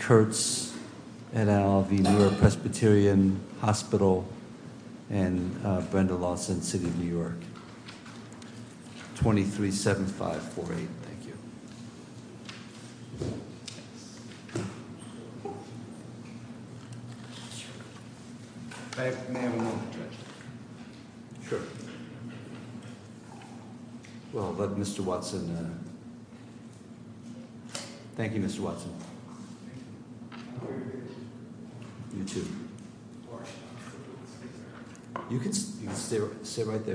Kurtz et al. of the New York Presbyterian Hospital and Brenda Lawson, City of New York 237548, thank you Well, but Mr. Watson Thank you, Mr. Watson You too You can stay right there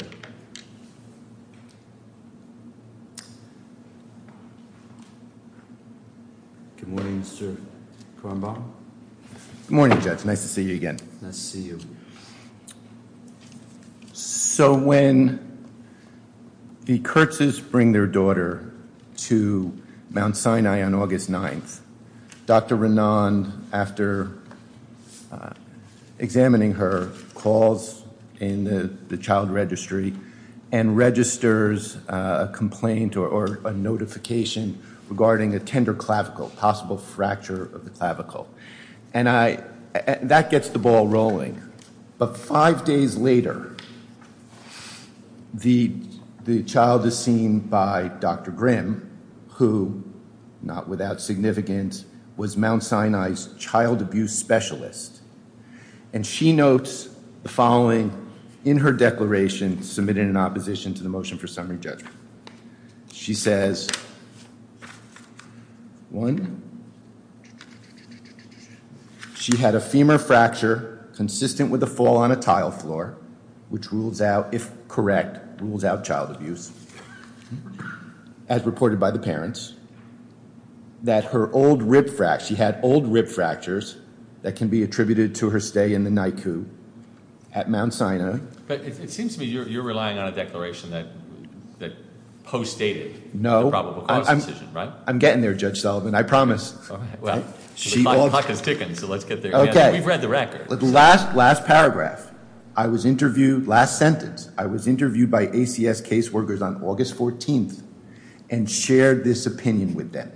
Good morning, Mr. Kornbaum Good morning, Judge Nice to see you again Nice to see you So when the Kurtzes bring their daughter to Mount Sinai on August 9th Dr. Renand, after examining her calls in the child registry and registers a complaint or a notification regarding a tender clavicle possible fracture of the clavicle and I that gets the ball rolling but five days later the the child is seen by Dr. Grimm who not without significance was Mount Sinai's child abuse specialist and she notes the following in her declaration submitted in opposition to the motion for summary judgment she says one she had a femur fracture consistent with a fall on a tile floor which rules out, if correct, rules out child abuse as reported by the parents that her old rib fractures she had old rib fractures that can be attributed to her stay in the NICU at Mount Sinai But it seems to me you're relying on a declaration that post dated the probable cause decision, right? I'm getting there, Judge Sullivan I promise The clock is ticking, so let's get there We've read the records The last paragraph I was interviewed, last sentence I was interviewed by ACS caseworkers on August 14th and shared this opinion with them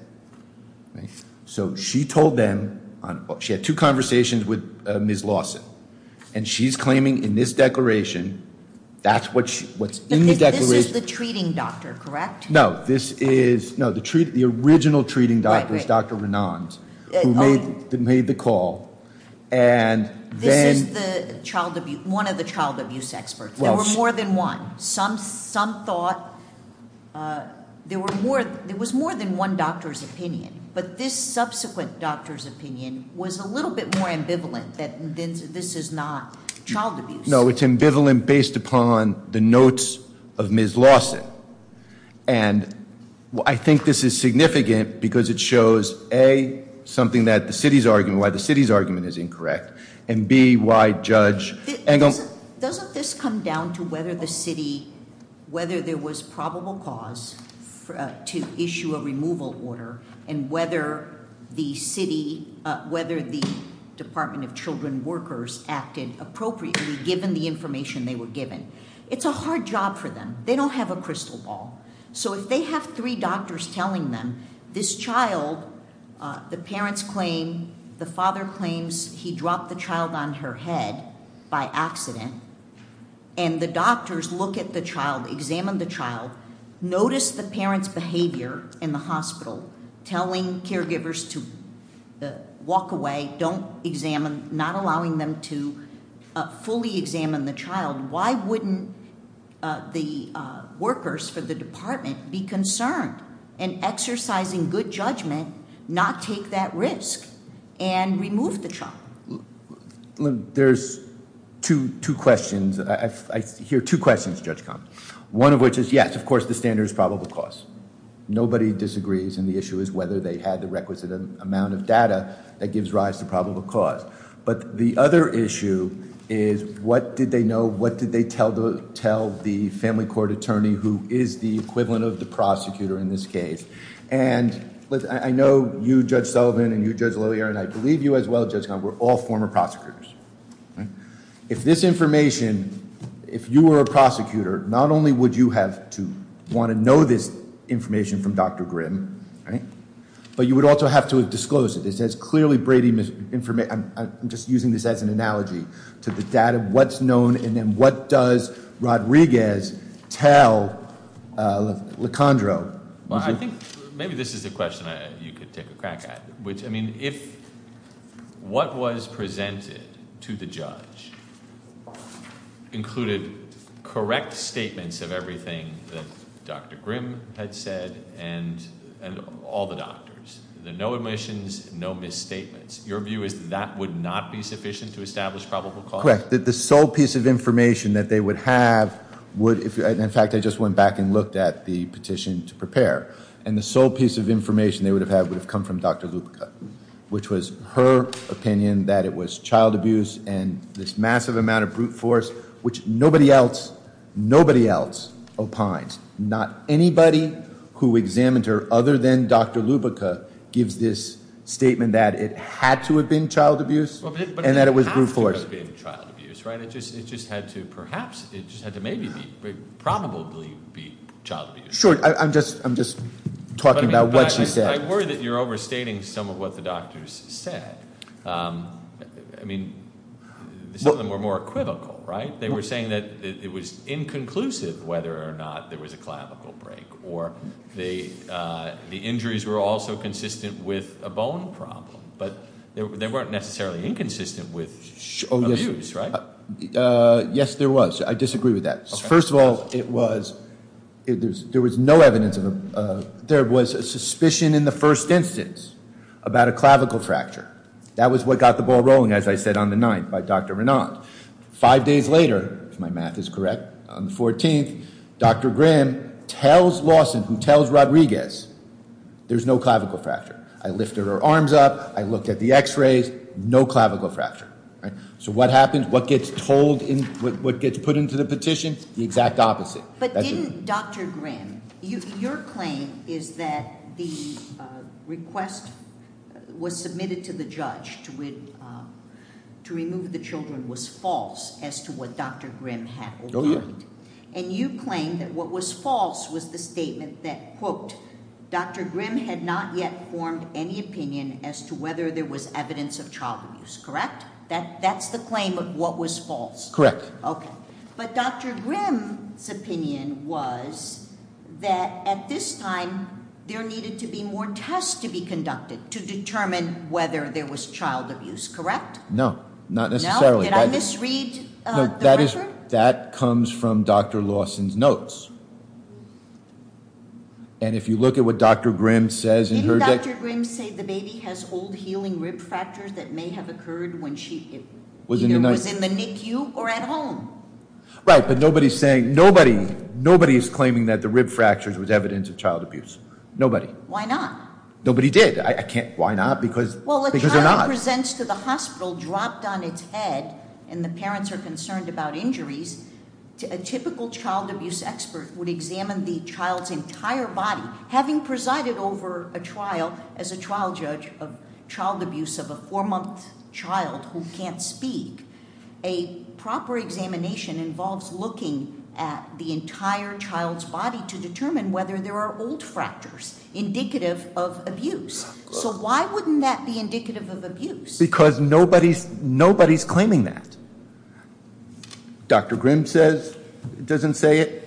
So she told them, she had two conversations with Ms. Lawson and she's claiming in this declaration that's what's in the declaration. This is the treating doctor, correct? No, this is the original treating doctor is Dr. Renand who made the call This is one of the child abuse experts There were more than one Some thought there was more than one doctor's opinion, but this subsequent doctor's opinion was a little bit more ambivalent that this is not child abuse No, it's ambivalent based upon the notes of Ms. Lawson and I think this is significant because it shows, A, something that the city's argument, why the city's argument is incorrect, and B, why judge Angle Doesn't this come down to whether the city whether there was probable cause to issue a removal order and whether the city, whether the Department of Children Workers acted appropriately given the information they were given It's a hard job for them. They don't have a crystal ball. So if they have three doctors telling them, this child the parents claim the father claims he dropped the child on her head by accident and the doctors look at the child examine the child, notice the parent's behavior in the hospital telling caregivers to walk away don't examine, not allowing them to fully examine the child, why wouldn't the workers for the department be concerned in exercising good judgment not take that risk and remove the child There's two questions I hear two questions Judge Combs one of which is yes, of course the standard is probable cause. Nobody disagrees and the issue is whether they had the requisite amount of data that gives rise to probable cause. But the other issue is what did they know, what did they tell the family court attorney who is the equivalent of the prosecutor in this case. And I know you Judge Sullivan and you Judge Loehr and I believe you as well Judge Combs were all former prosecutors If this information if you were a prosecutor, not only would you have to want to know this information from Dr. Grimm but you would also have to disclose it. It says clearly Brady I'm just using this as an analogy to the data what's known and then what does Rodriguez tell LeCondro Well I think maybe this is a question you could take a crack at I mean if what was presented to the judge included correct statements of everything that Dr. Grimm had said and all the doctors no omissions, no misstatements your view is that would not be sufficient to establish probable cause the sole piece of information that they would have would, in fact I just went back and looked at the petition to prepare and the sole piece of information they would have had would have come from Dr. Lubica which was her opinion that it was child abuse and this massive amount of brute force which nobody else, nobody else opines. Not anybody who examined her other than Dr. Lubica gives this statement that it had to have been child abuse and that it was brute force. It had to have been child abuse it just had to perhaps maybe be, probably be child abuse. Sure, I'm just talking about what she said I worry that you're overstating some of what the doctors said I mean some of them were more equivocal, right? They were saying that it was inconclusive whether or not there was a clavicle break or the injuries were also consistent with a bone problem, but they weren't necessarily inconsistent with abuse, right? Yes, there was. I disagree with that First of all, it was there was no evidence of there was a suspicion in the first instance about a clavicle fracture. That was what got the ball rolling as I said on the 9th by Dr. Renand Five days later, if my math is correct, on the 14th Dr. Graham tells Lawson who tells Rodriguez there's no clavicle fracture I lifted her arms up, I looked at the x-rays, no clavicle fracture So what happens, what gets told, what gets put into the petition the exact opposite But didn't Dr. Graham your claim is that the request was submitted to the judge to remove the children was false as to what Dr. Graham had and you claim that what was false was the statement that Dr. Graham had not yet formed any opinion as to whether there was evidence of child abuse, correct? That's the claim of what was false. Correct. Okay. But Dr. Graham's opinion was that at this time, there needed to be more tests to be conducted to determine whether there was child abuse, correct? No, not necessarily Did I misread the record? That comes from Dr. Dawson's notes And if you look at what Dr. Graham says in her- Didn't Dr. Graham say the baby has old healing rib fractures that may have occurred when she either was in the NICU or at home? Right, but nobody's saying, nobody is claiming that the rib fractures was evidence of child abuse. Nobody. Why not? Nobody did. I can't, why not? Because they're not. Well, a child who presents to the hospital dropped on its head and the parents are concerned about injuries a typical child abuse expert would examine the child's entire body. Having presided over a trial as a child judge of child abuse of a four month child who can't speak a proper examination involves looking at the entire child's body to determine whether there are old fractures indicative of abuse. So why wouldn't that be indicative of abuse? Because nobody's claiming that. Dr. Grim says it doesn't say it.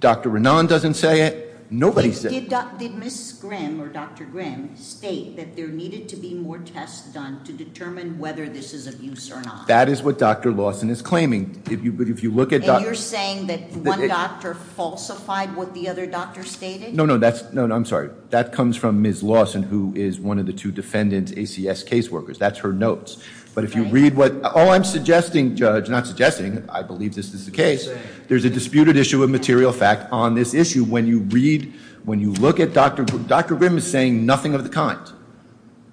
Dr. Renan doesn't say it. Nobody says- Did Ms. Grim or Dr. Grim state that there needed to be more tests done to determine whether this is abuse or not? That is what Dr. Lawson is claiming. If you look at- And you're saying that one doctor falsified what the other doctor stated? No, no, that's- I'm sorry. That comes from Ms. Lawson who is one of the two defendants, ACS caseworkers. That's her notes. But if you read what- Oh, I'm suggesting, Judge, not suggesting, I believe this is the case, there's a disputed issue of material fact on this issue. When you read, when you look at Dr. Dr. Grim is saying nothing of the kind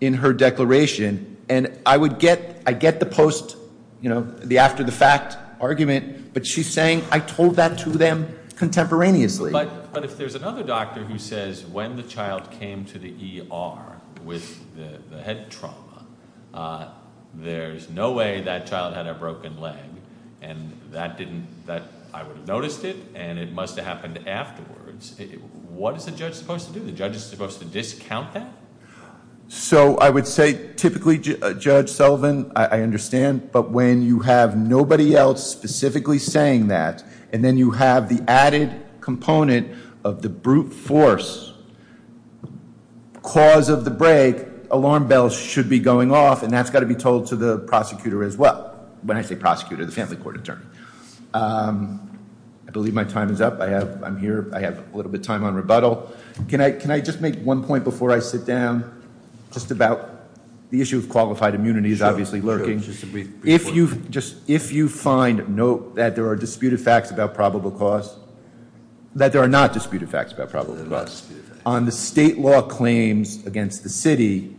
in her declaration and I would get, I get the post you know, the after the fact argument, but she's saying I told that to them contemporaneously. But if there's another doctor who says when the child came to the ER with the head trauma, there's no way that child had a broken leg and that didn't that- I would have noticed it and it must have happened afterwards. What is the judge supposed to do? The judge is supposed to discount that? So I would say typically Judge Sullivan, I understand, but when you have nobody else specifically saying that and then you have the added component of the brute force cause of the break, alarm bells should be going off and that's got to be told to the prosecutor as well. When I say prosecutor the family court attorney. I believe my time is up. I'm here. I have a little bit of time on rebuttal. Can I just make one point before I sit down? Just about the issue of qualified immunity is obviously lurking. If you find that there are disputed facts about probable cause, that there are not disputed facts about probable cause on the state law claims against the city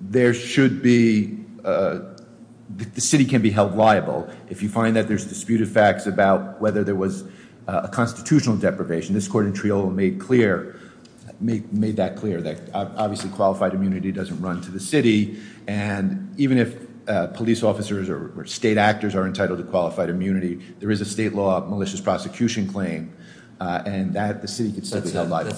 there should be the city can be held liable. If you find that there's disputed facts about whether there was a constitutional deprivation, this court in Triolo made clear made that clear that obviously qualified immunity doesn't run to the city and even if police officers or state actors are entitled to qualified immunity there is a state law malicious prosecution claim and that the city can still be held liable.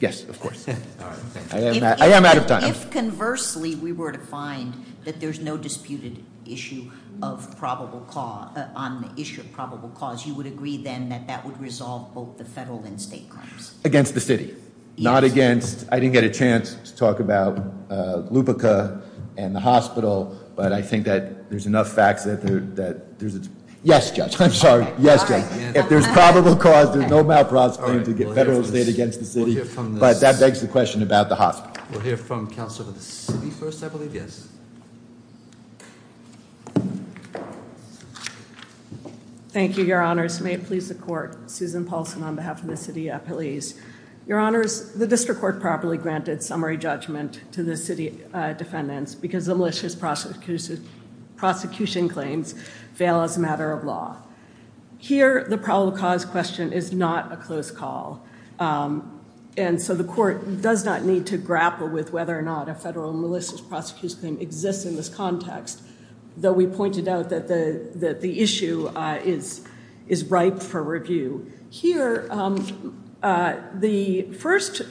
Yes, of course. I am out of time. If conversely we were to find that there's no disputed issue of probable cause, on the issue of probable cause, you would agree then that that would resolve both the federal and state crimes? Against the city. Not against, I didn't get a chance to talk about Lupica and the hospital but I think that there's enough facts that there's a... Yes, Judge. I'm sorry. Yes, Judge. If there's probable cause, there's no malpractice claim to get federal state against the city but that begs the question about the hospital. We'll hear from counsel of the city first, I believe. Yes. Thank you, Your Honors. May it please the court. Susan Paulson on behalf of the city police. Your Honors, the district court properly granted summary judgment to the city defendants because the malicious prosecution claims fail as a matter of law. Here, the probable cause question is not a close call. And so the court does not need to grapple with whether or not a federal malicious prosecution claim exists in this context. Though we pointed out that the issue is ripe for review. Here, the first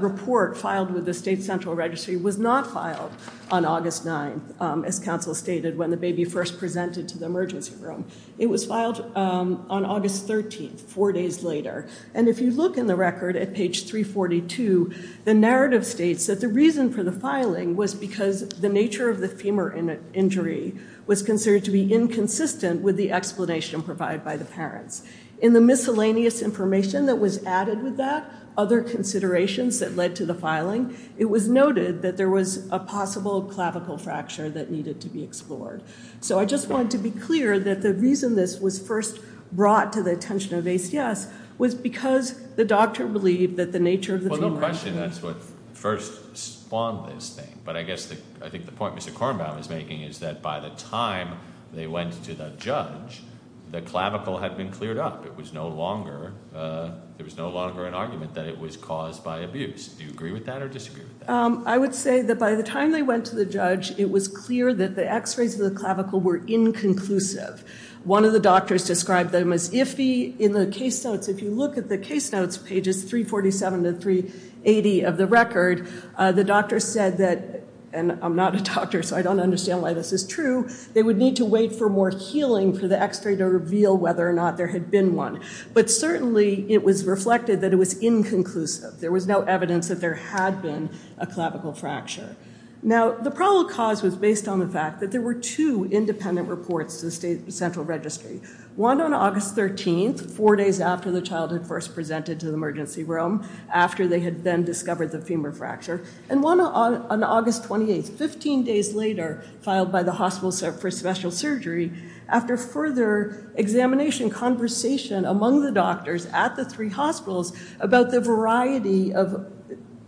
report filed with the state central registry was not filed on August 9th, as counsel stated when the baby first presented to the emergency room. It was filed on August 13th, four days later. And if you look in the record at page 342, the narrative states that the reason for the filing was because the nature of the femur injury was considered to be inconsistent with the explanation provided by the parents. In the miscellaneous information that was added with that, other considerations that led to the filing, it was noted that there was a possible clavicle fracture that needed to be explored. So I just wanted to be clear that the reason this was first brought to the attention of ACS was because the doctor believed that the nature of the femur injury... Well, no question that's what first spawned this thing. But I guess, I think the point Mr. Kornbaum is making is that by the time they went to the judge, the clavicle had been cleared up. It was no longer, there was no longer an argument that it was caused by abuse. Do you agree with that or disagree with that? I would say that by the time they went to the judge, it was clear that the x-rays of the clavicle were inconclusive. One of the doctors described them as iffy. In the case notes, if you look at the case notes, pages 347 to 380 of the record, the doctor said that, and I'm not a doctor so I don't understand why this is true, they would need to wait for more healing for the x-ray to reveal whether or not there had been one. But certainly, it was reflected that it was inconclusive. There was no evidence that there had been a clavicle fracture. Now, the probable cause was based on the fact that there were two independent reports to the central registry. One on August 13th, four days after the child had first presented to the emergency room, after they had then discovered the femur fracture. And one on August 28th, 15 days later, filed by the hospital for special surgery, after further examination, conversation among the doctors at the three hospitals about the variety of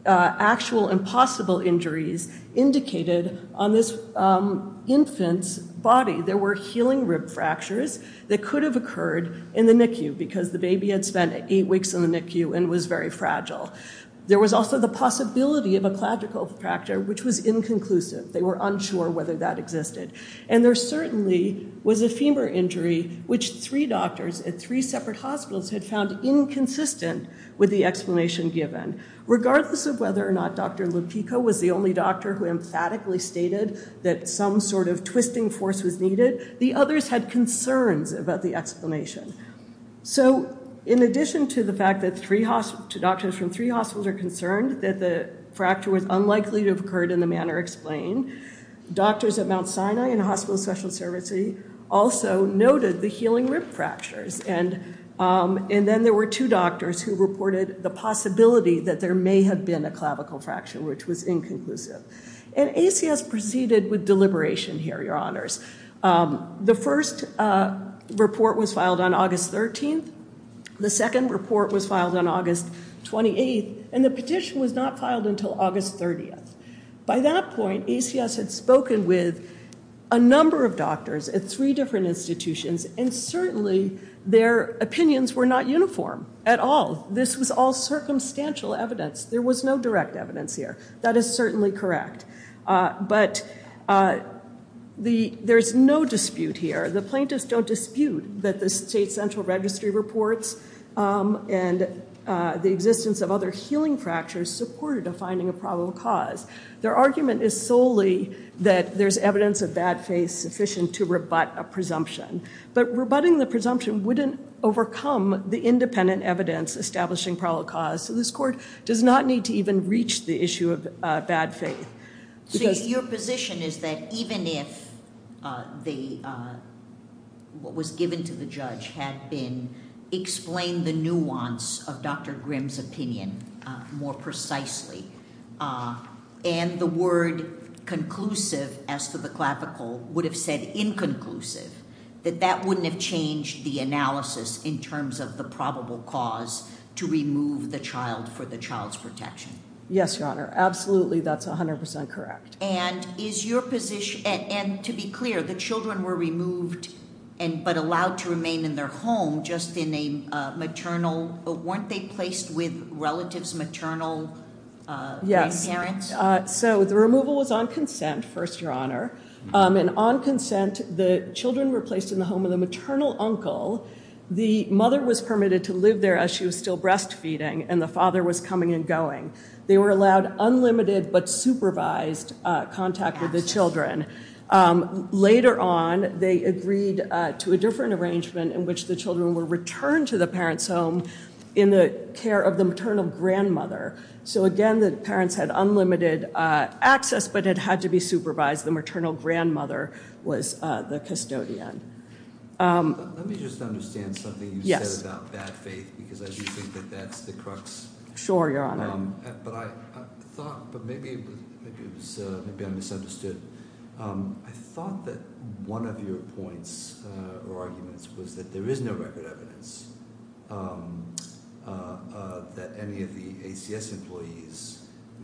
actual and possible injuries indicated on this infant's body. There were healing rib fractures that could have occurred in the NICU, because the baby had spent eight weeks in the NICU and was very fragile. There was also the possibility of a clavicle fracture, which was inconclusive. They were unsure whether that existed. And there certainly was a femur injury, which three doctors at three separate hospitals had found inconsistent with the explanation given. Regardless of whether or not Dr. Lupico was the only doctor who emphatically stated that some sort of twisting force was needed, the others had concerns about the explanation. So, in addition to the fact that doctors from three hospitals are concerned that the fracture was unlikely to have occurred in the manner explained, doctors at Mount Sinai and Hospital Special Services also noted the healing rib fractures. And then there were two doctors who reported the possibility that there may have been a clavicle fracture, which was inconclusive. And ACS proceeded with deliberation here, Your Honors. The first report was filed on August 13th. The second report was filed on August 28th, and the petition was not filed until August 30th. By that point, ACS had spoken with a number of doctors at three different institutions, and certainly their opinions were not uniform at all. This was all circumstantial evidence. There was no direct evidence here. That is certainly correct. But there's no dispute here. The plaintiffs don't dispute that the State Central Registry reports and the existence of other healing fractures supported a finding of probable cause. Their argument is solely that there's evidence of bad faith sufficient to rebut a presumption. But rebutting the presumption wouldn't overcome the independent evidence establishing probable cause, so this court does not need to even reach the issue of bad faith. Your position is that even if what was given to the judge had been explained the nuance of Dr. Grimm's opinion more precisely, and the word conclusive, as to the clappical, would have said inconclusive, that that wouldn't have changed the analysis in terms of the probable cause to remove the child for the child's protection? Yes, Your Honor. Absolutely, that's 100% correct. And to be clear, the children were removed but allowed to remain in their home just in a maternal, weren't they replaced with relatives, maternal grandparents? So the removal was on consent, First Your Honor, and on consent, the children were placed in the home of the maternal uncle. The mother was permitted to live there as she was still breastfeeding, and the father was coming and going. They were allowed unlimited but supervised contact with the children. Later on, they agreed to a different arrangement in which the children were returned to the parent's home in the care of the maternal grandmother. So again, the parents had unlimited access, but it had to be supervised. The maternal grandmother was the custodian. Let me just understand something you said about bad faith, because I do think that that's the crux. Sure, Your Honor. But maybe I misunderstood. I thought that one of your points or arguments was that there is no record evidence that any of the ACS employees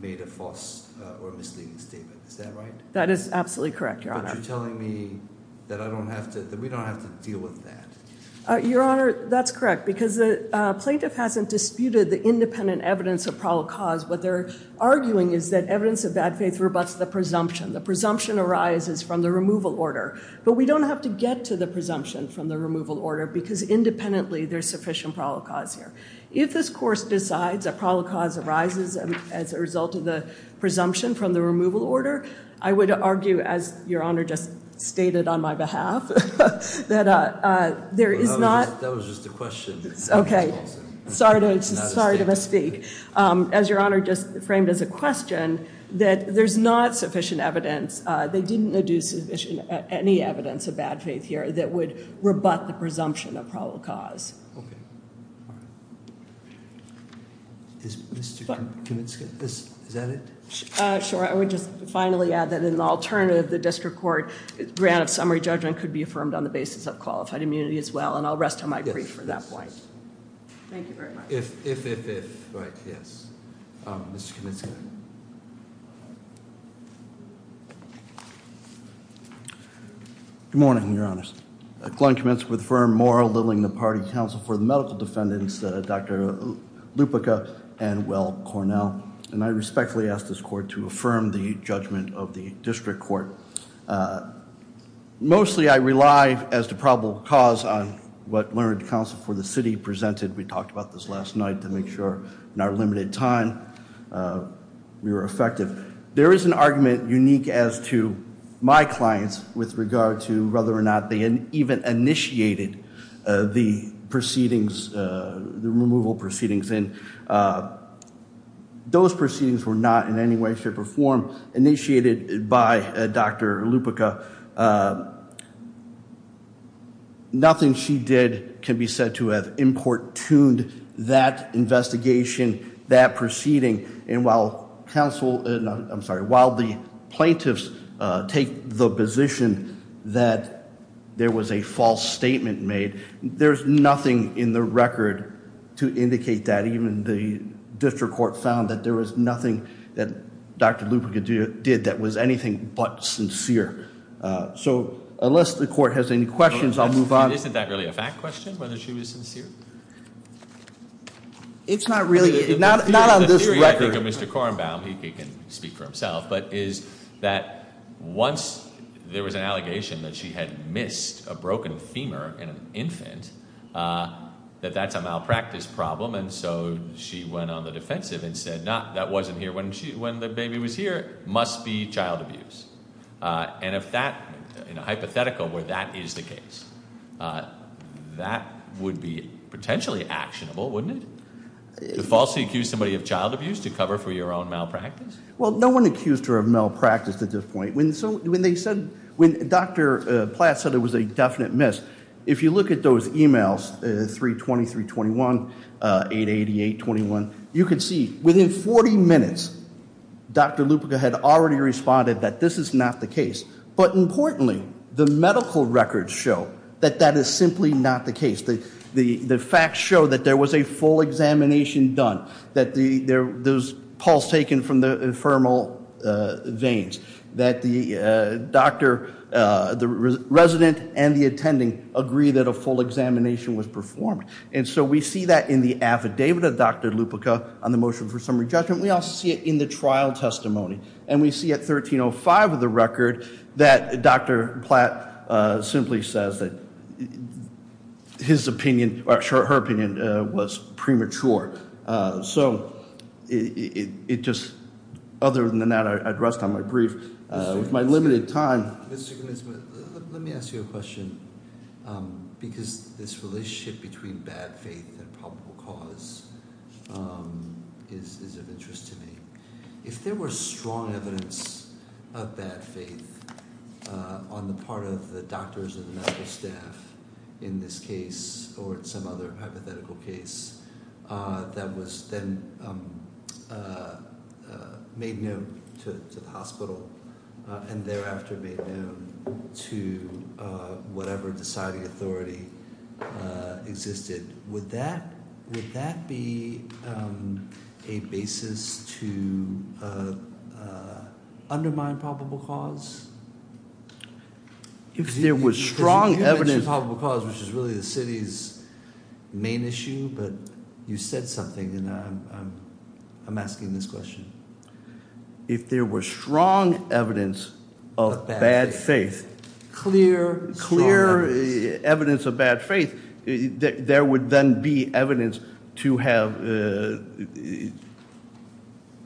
made a false or misleading statement. Is that right? That is absolutely correct, Your Honor. But you're telling me that we don't have to deal with that. Your Honor, that's correct, because the plaintiff hasn't disputed the independent evidence of probable cause. What they're arguing is that evidence of bad faith rebuts the presumption. The presumption arises from the removal order, but we don't have to get to the presumption from the removal order, because independently there's sufficient probable cause here. If this course decides that probable cause arises as a result of the presumption from the removal order, I would argue, as Your Honor just stated on my behalf, that there is not... That was just a question. Sorry to misspeak. As Your Honor just framed as a question, that there's not sufficient evidence. They didn't deduce any evidence of bad faith here that would rebut the presumption of probable cause. Okay. Is Mr. Kominska... Is that it? Sure. I would just finally add that in the alternative, the district court grant of summary judgment could be affirmed on the basis of qualified immunity as well, and I'll rest on my brief for that point. Thank you very much. If... Right. Yes. Mr. Kominska. Good morning, Your Honors. Glenn Kominska with the Firm Morrill, leveling the party counsel for the medical defendants, Dr. Lupica and Will Cornell. And I respectfully ask this court to affirm the judgment of the district court. Mostly I rely as to probable cause on what learned counsel for the city presented. We talked about this last night to make sure in our limited time we were effective. There is an argument unique as to my clients with regard to whether or not they even initiated the proceedings, the removal proceedings, and those proceedings were not in any way, shape, or form initiated by Dr. Lupica. Nothing she did can be said to have importuned that investigation, that proceeding, and while counsel, I'm sorry, while the plaintiffs take the position that there was a false statement made, there's nothing in the record to indicate that even the district court found that there was nothing that Dr. Lupica did that was anything but sincere. So unless the court has any questions I'll move on. Isn't that really a fact question, whether she was sincere? It's not really. Not on this record. Mr. Kornbaum, he can speak for himself, but is that once there was an allegation that she had missed a broken femur in an infant, that that's a malpractice problem, and so she went on the defensive and said that wasn't here when the baby was here, must be child abuse. And if that, in a hypothetical where that is the that would be potentially actionable, wouldn't it? To falsely accuse somebody of child abuse to cover for your own malpractice? Well, no one accused her of malpractice at this point. When they said, when Dr. Platt said it was a definite miss, if you look at those emails, 320-321, 888-21, you can see within 40 minutes Dr. Lupica had already responded that this is not the case. But importantly, the medical records show that that is simply not the case. The facts show that there was a full examination done, that there was pulse taken from the infermal veins, that the resident and the attending agree that a full examination was performed. And so we see that in the affidavit of Dr. Lupica on the motion for summary judgment. We also see it in the trial testimony. And we see at 1305 of the record that Dr. Platt simply says that his opinion, or her opinion, was premature. it just, other than that, I'd rest on my brief. With my limited time... Let me ask you a question. Because this relationship between bad faith and probable cause is of interest to me. If there were strong evidence of bad faith on the part of the doctors or the medical staff in this case, or in some other hypothetical case, that was then made known to the hospital and thereafter made known to whatever deciding authority existed, would that be a basis to undermine probable cause? If there was strong evidence... You mentioned probable cause, which is really the city's main issue, but you said something and I'm asking this question. If there were strong evidence of bad faith... Clear, strong evidence. Clear evidence of bad faith, there would then be evidence to have...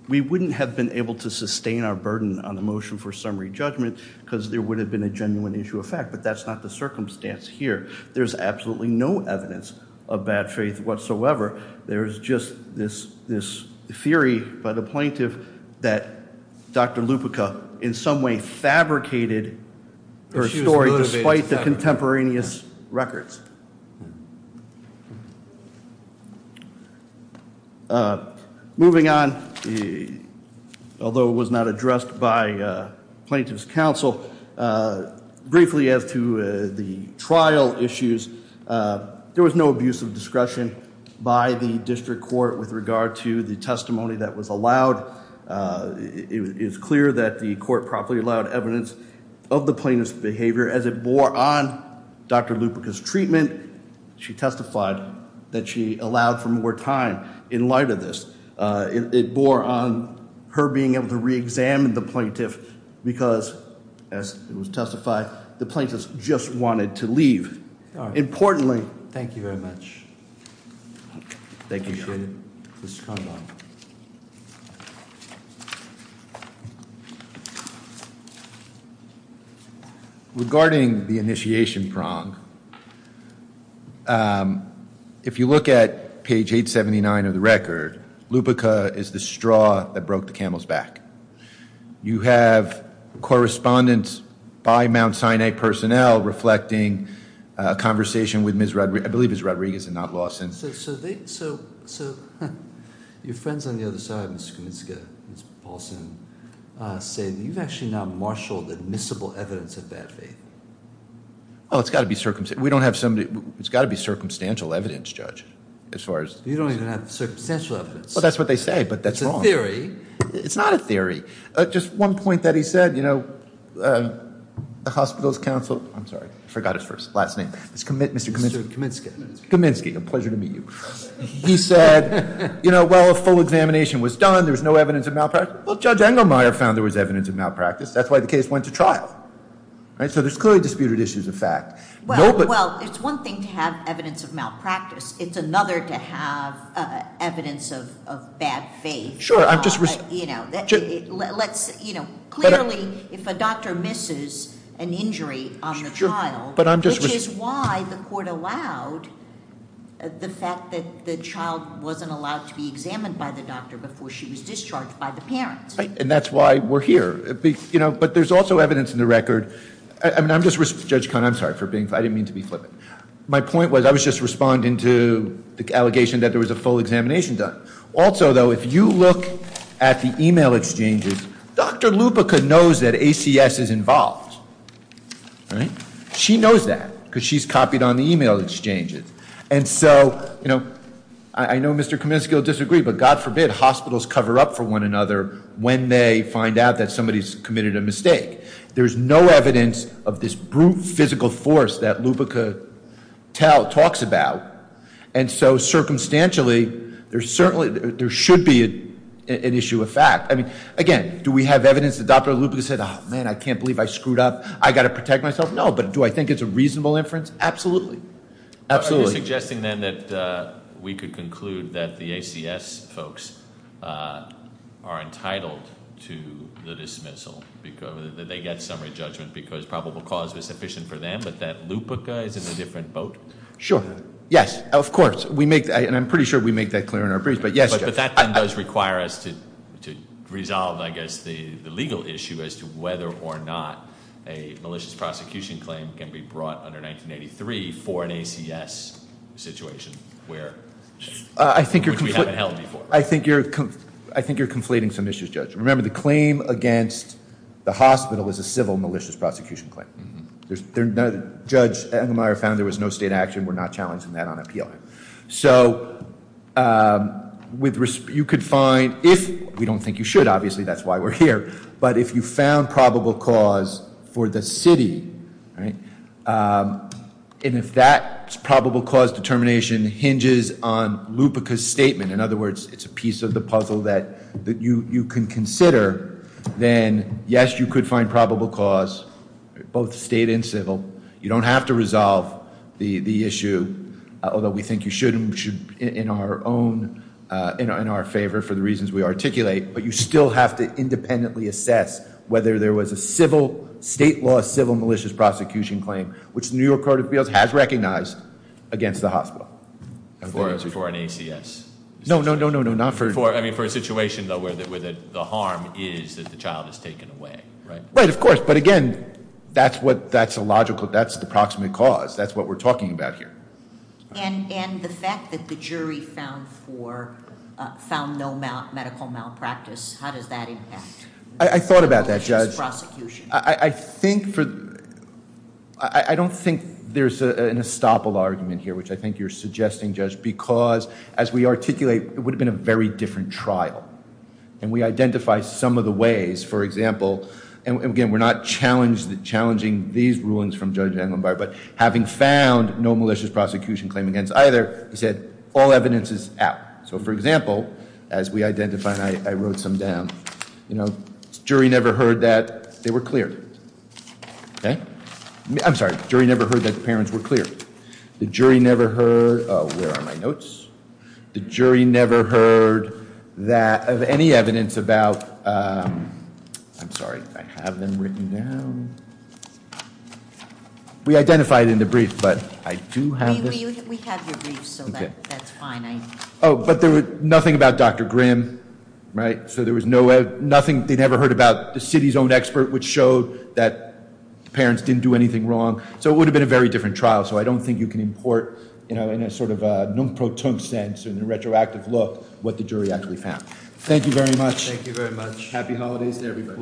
We wouldn't have been able to sustain our burden on the motion for summary judgment because there would have been a genuine issue of fact, but that's not the circumstance here. There's absolutely no evidence of bad faith whatsoever. There's just this theory by the plaintiff that Dr. Lupica in some way fabricated her story despite the contemporaneous records. Moving on, although it was not addressed by plaintiff's counsel, briefly as to the trial issues, there was no abuse of discretion by the district court with regard to the testimony that was allowed. It is clear that the court properly allowed evidence of the plaintiff's behavior as it bore on Dr. Lupica's treatment. She testified that she allowed for more time in light of this. It bore on her being able to re-examine the plaintiff because as it was testified, the plaintiff just wanted to leave. Importantly... Regarding the initiation prong, if you look at page 879 of the record, Lupica is the straw that broke the camel's back. You have correspondence by Mount Sinai personnel reflecting a conversation with Ms. Rodriguez and not Lawson. Your friends on the other side, Ms. Kominska, Ms. Paulson, say that you've actually not marshaled admissible evidence of bad faith. It's got to be circumstantial evidence, You don't even have circumstantial evidence. That's what they say, but that's wrong. It's a theory. It's not a theory. Just one point that he said, the hospital's counsel... I forgot his last name. Mr. Kominska. Kominska. A pleasure to meet you. He said, well, a full examination was done. There was no evidence of malpractice. Judge Engelmeyer found there was evidence of malpractice. That's why the case went to trial. So there's clearly disputed issues of fact. Well, it's one thing to have evidence of malpractice. It's another to have evidence of bad faith. Clearly, if a doctor misses an injury on the child, which is why the court allowed the fact that the child wasn't allowed to be examined by the doctor before she was discharged by the parent. And that's why we're here. But there's also evidence in the record... I'm just... Judge Cohn, I'm sorry for being... I didn't mean to be flippant. My point was, I was just responding to the allegation that there was a full examination done. Also, though, if you look at the email exchanges, Dr. Lupica knows that ACS is involved. She knows that, because she's copied on the email exchanges. And so, I know Mr. Kominska will disagree, but God forbid hospitals cover up for one another when they find out that somebody's committed a mistake. There's no evidence of this brute physical force that Lupica talks about. And so, circumstantially, there should be an issue of fact. I mean, again, do we have evidence that Dr. Lupica said, man, I can't believe I screwed up. I've got to protect myself? No. But do I think it's a reasonable inference? Absolutely. Absolutely. Are you suggesting, then, that we could conclude that the ACS folks are entitled to the dismissal? That they get summary judgment because probable cause was sufficient for them, but that Lupica is in a different boat? Sure. Yes. Of course. And I'm pretty sure we make that clear in our briefs. But yes, Jeff. But that, then, does require us to resolve, I guess, the legal issue as to whether or not a malicious prosecution claim can be brought under 1983 for an ACS situation where we haven't held before. I think you're conflating some issues, Judge. Remember, the claim against the hospital is a civil malicious prosecution claim. Judge Engelmeyer found there was no state action. We're not challenging that on appeal. So, you could find, if we don't think you should, obviously, that's why we're here. But if you found probable cause for the city, and if that probable cause determination hinges on Lupica's statement, in other words, it's a piece of the puzzle that you can consider, then yes, you could find probable cause, both state and civil. You don't have to resolve the issue, although we think you should and we should be in our own, in our favor for the reasons we articulate, but you still have to independently assess whether there was a civil, state law, civil malicious prosecution claim, which the New York Court of Appeals has recognized, against the hospital. For an ACS? No, no, no, no. I mean, for a situation, though, where the harm is that the child is taken away, right? Right, of course, but again, that's what, that's a logical, that's the proximate cause. That's what we're talking about here. And the fact that the jury found for, found no medical malpractice, how does that impact I thought about that, Judge. I think for, I don't think there's an estoppel argument here, which I think you're suggesting, Judge, because as we articulate, it would have been a very different trial. And we identify some of the ways, for example, and again, we're not challenged, challenging these rulings from Judge Englenbart, but having found no malicious prosecution claim against either, he said, all evidence is out. So for example, as we identify, and I wrote some down, jury never heard that they were cleared. I'm sorry, jury never heard that parents were cleared. The jury never heard, where are my notes? The jury never heard that of any evidence about, I'm sorry, I have them written down. We identified in the brief, but I do have this. We have your brief, so that's fine. Oh, but there was nothing about Dr. Grimm, right? So there was no way, nothing, they never heard about the city's own expert, which showed that parents didn't do anything wrong. So it would have been a very different trial, so I don't think you can import, you know, in a sort of non-proton sense, in a retroactive look, what the jury actually found. Thank you very much. Thank you very much. Happy Holidays to everybody.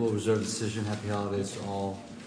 Happy Holidays to all.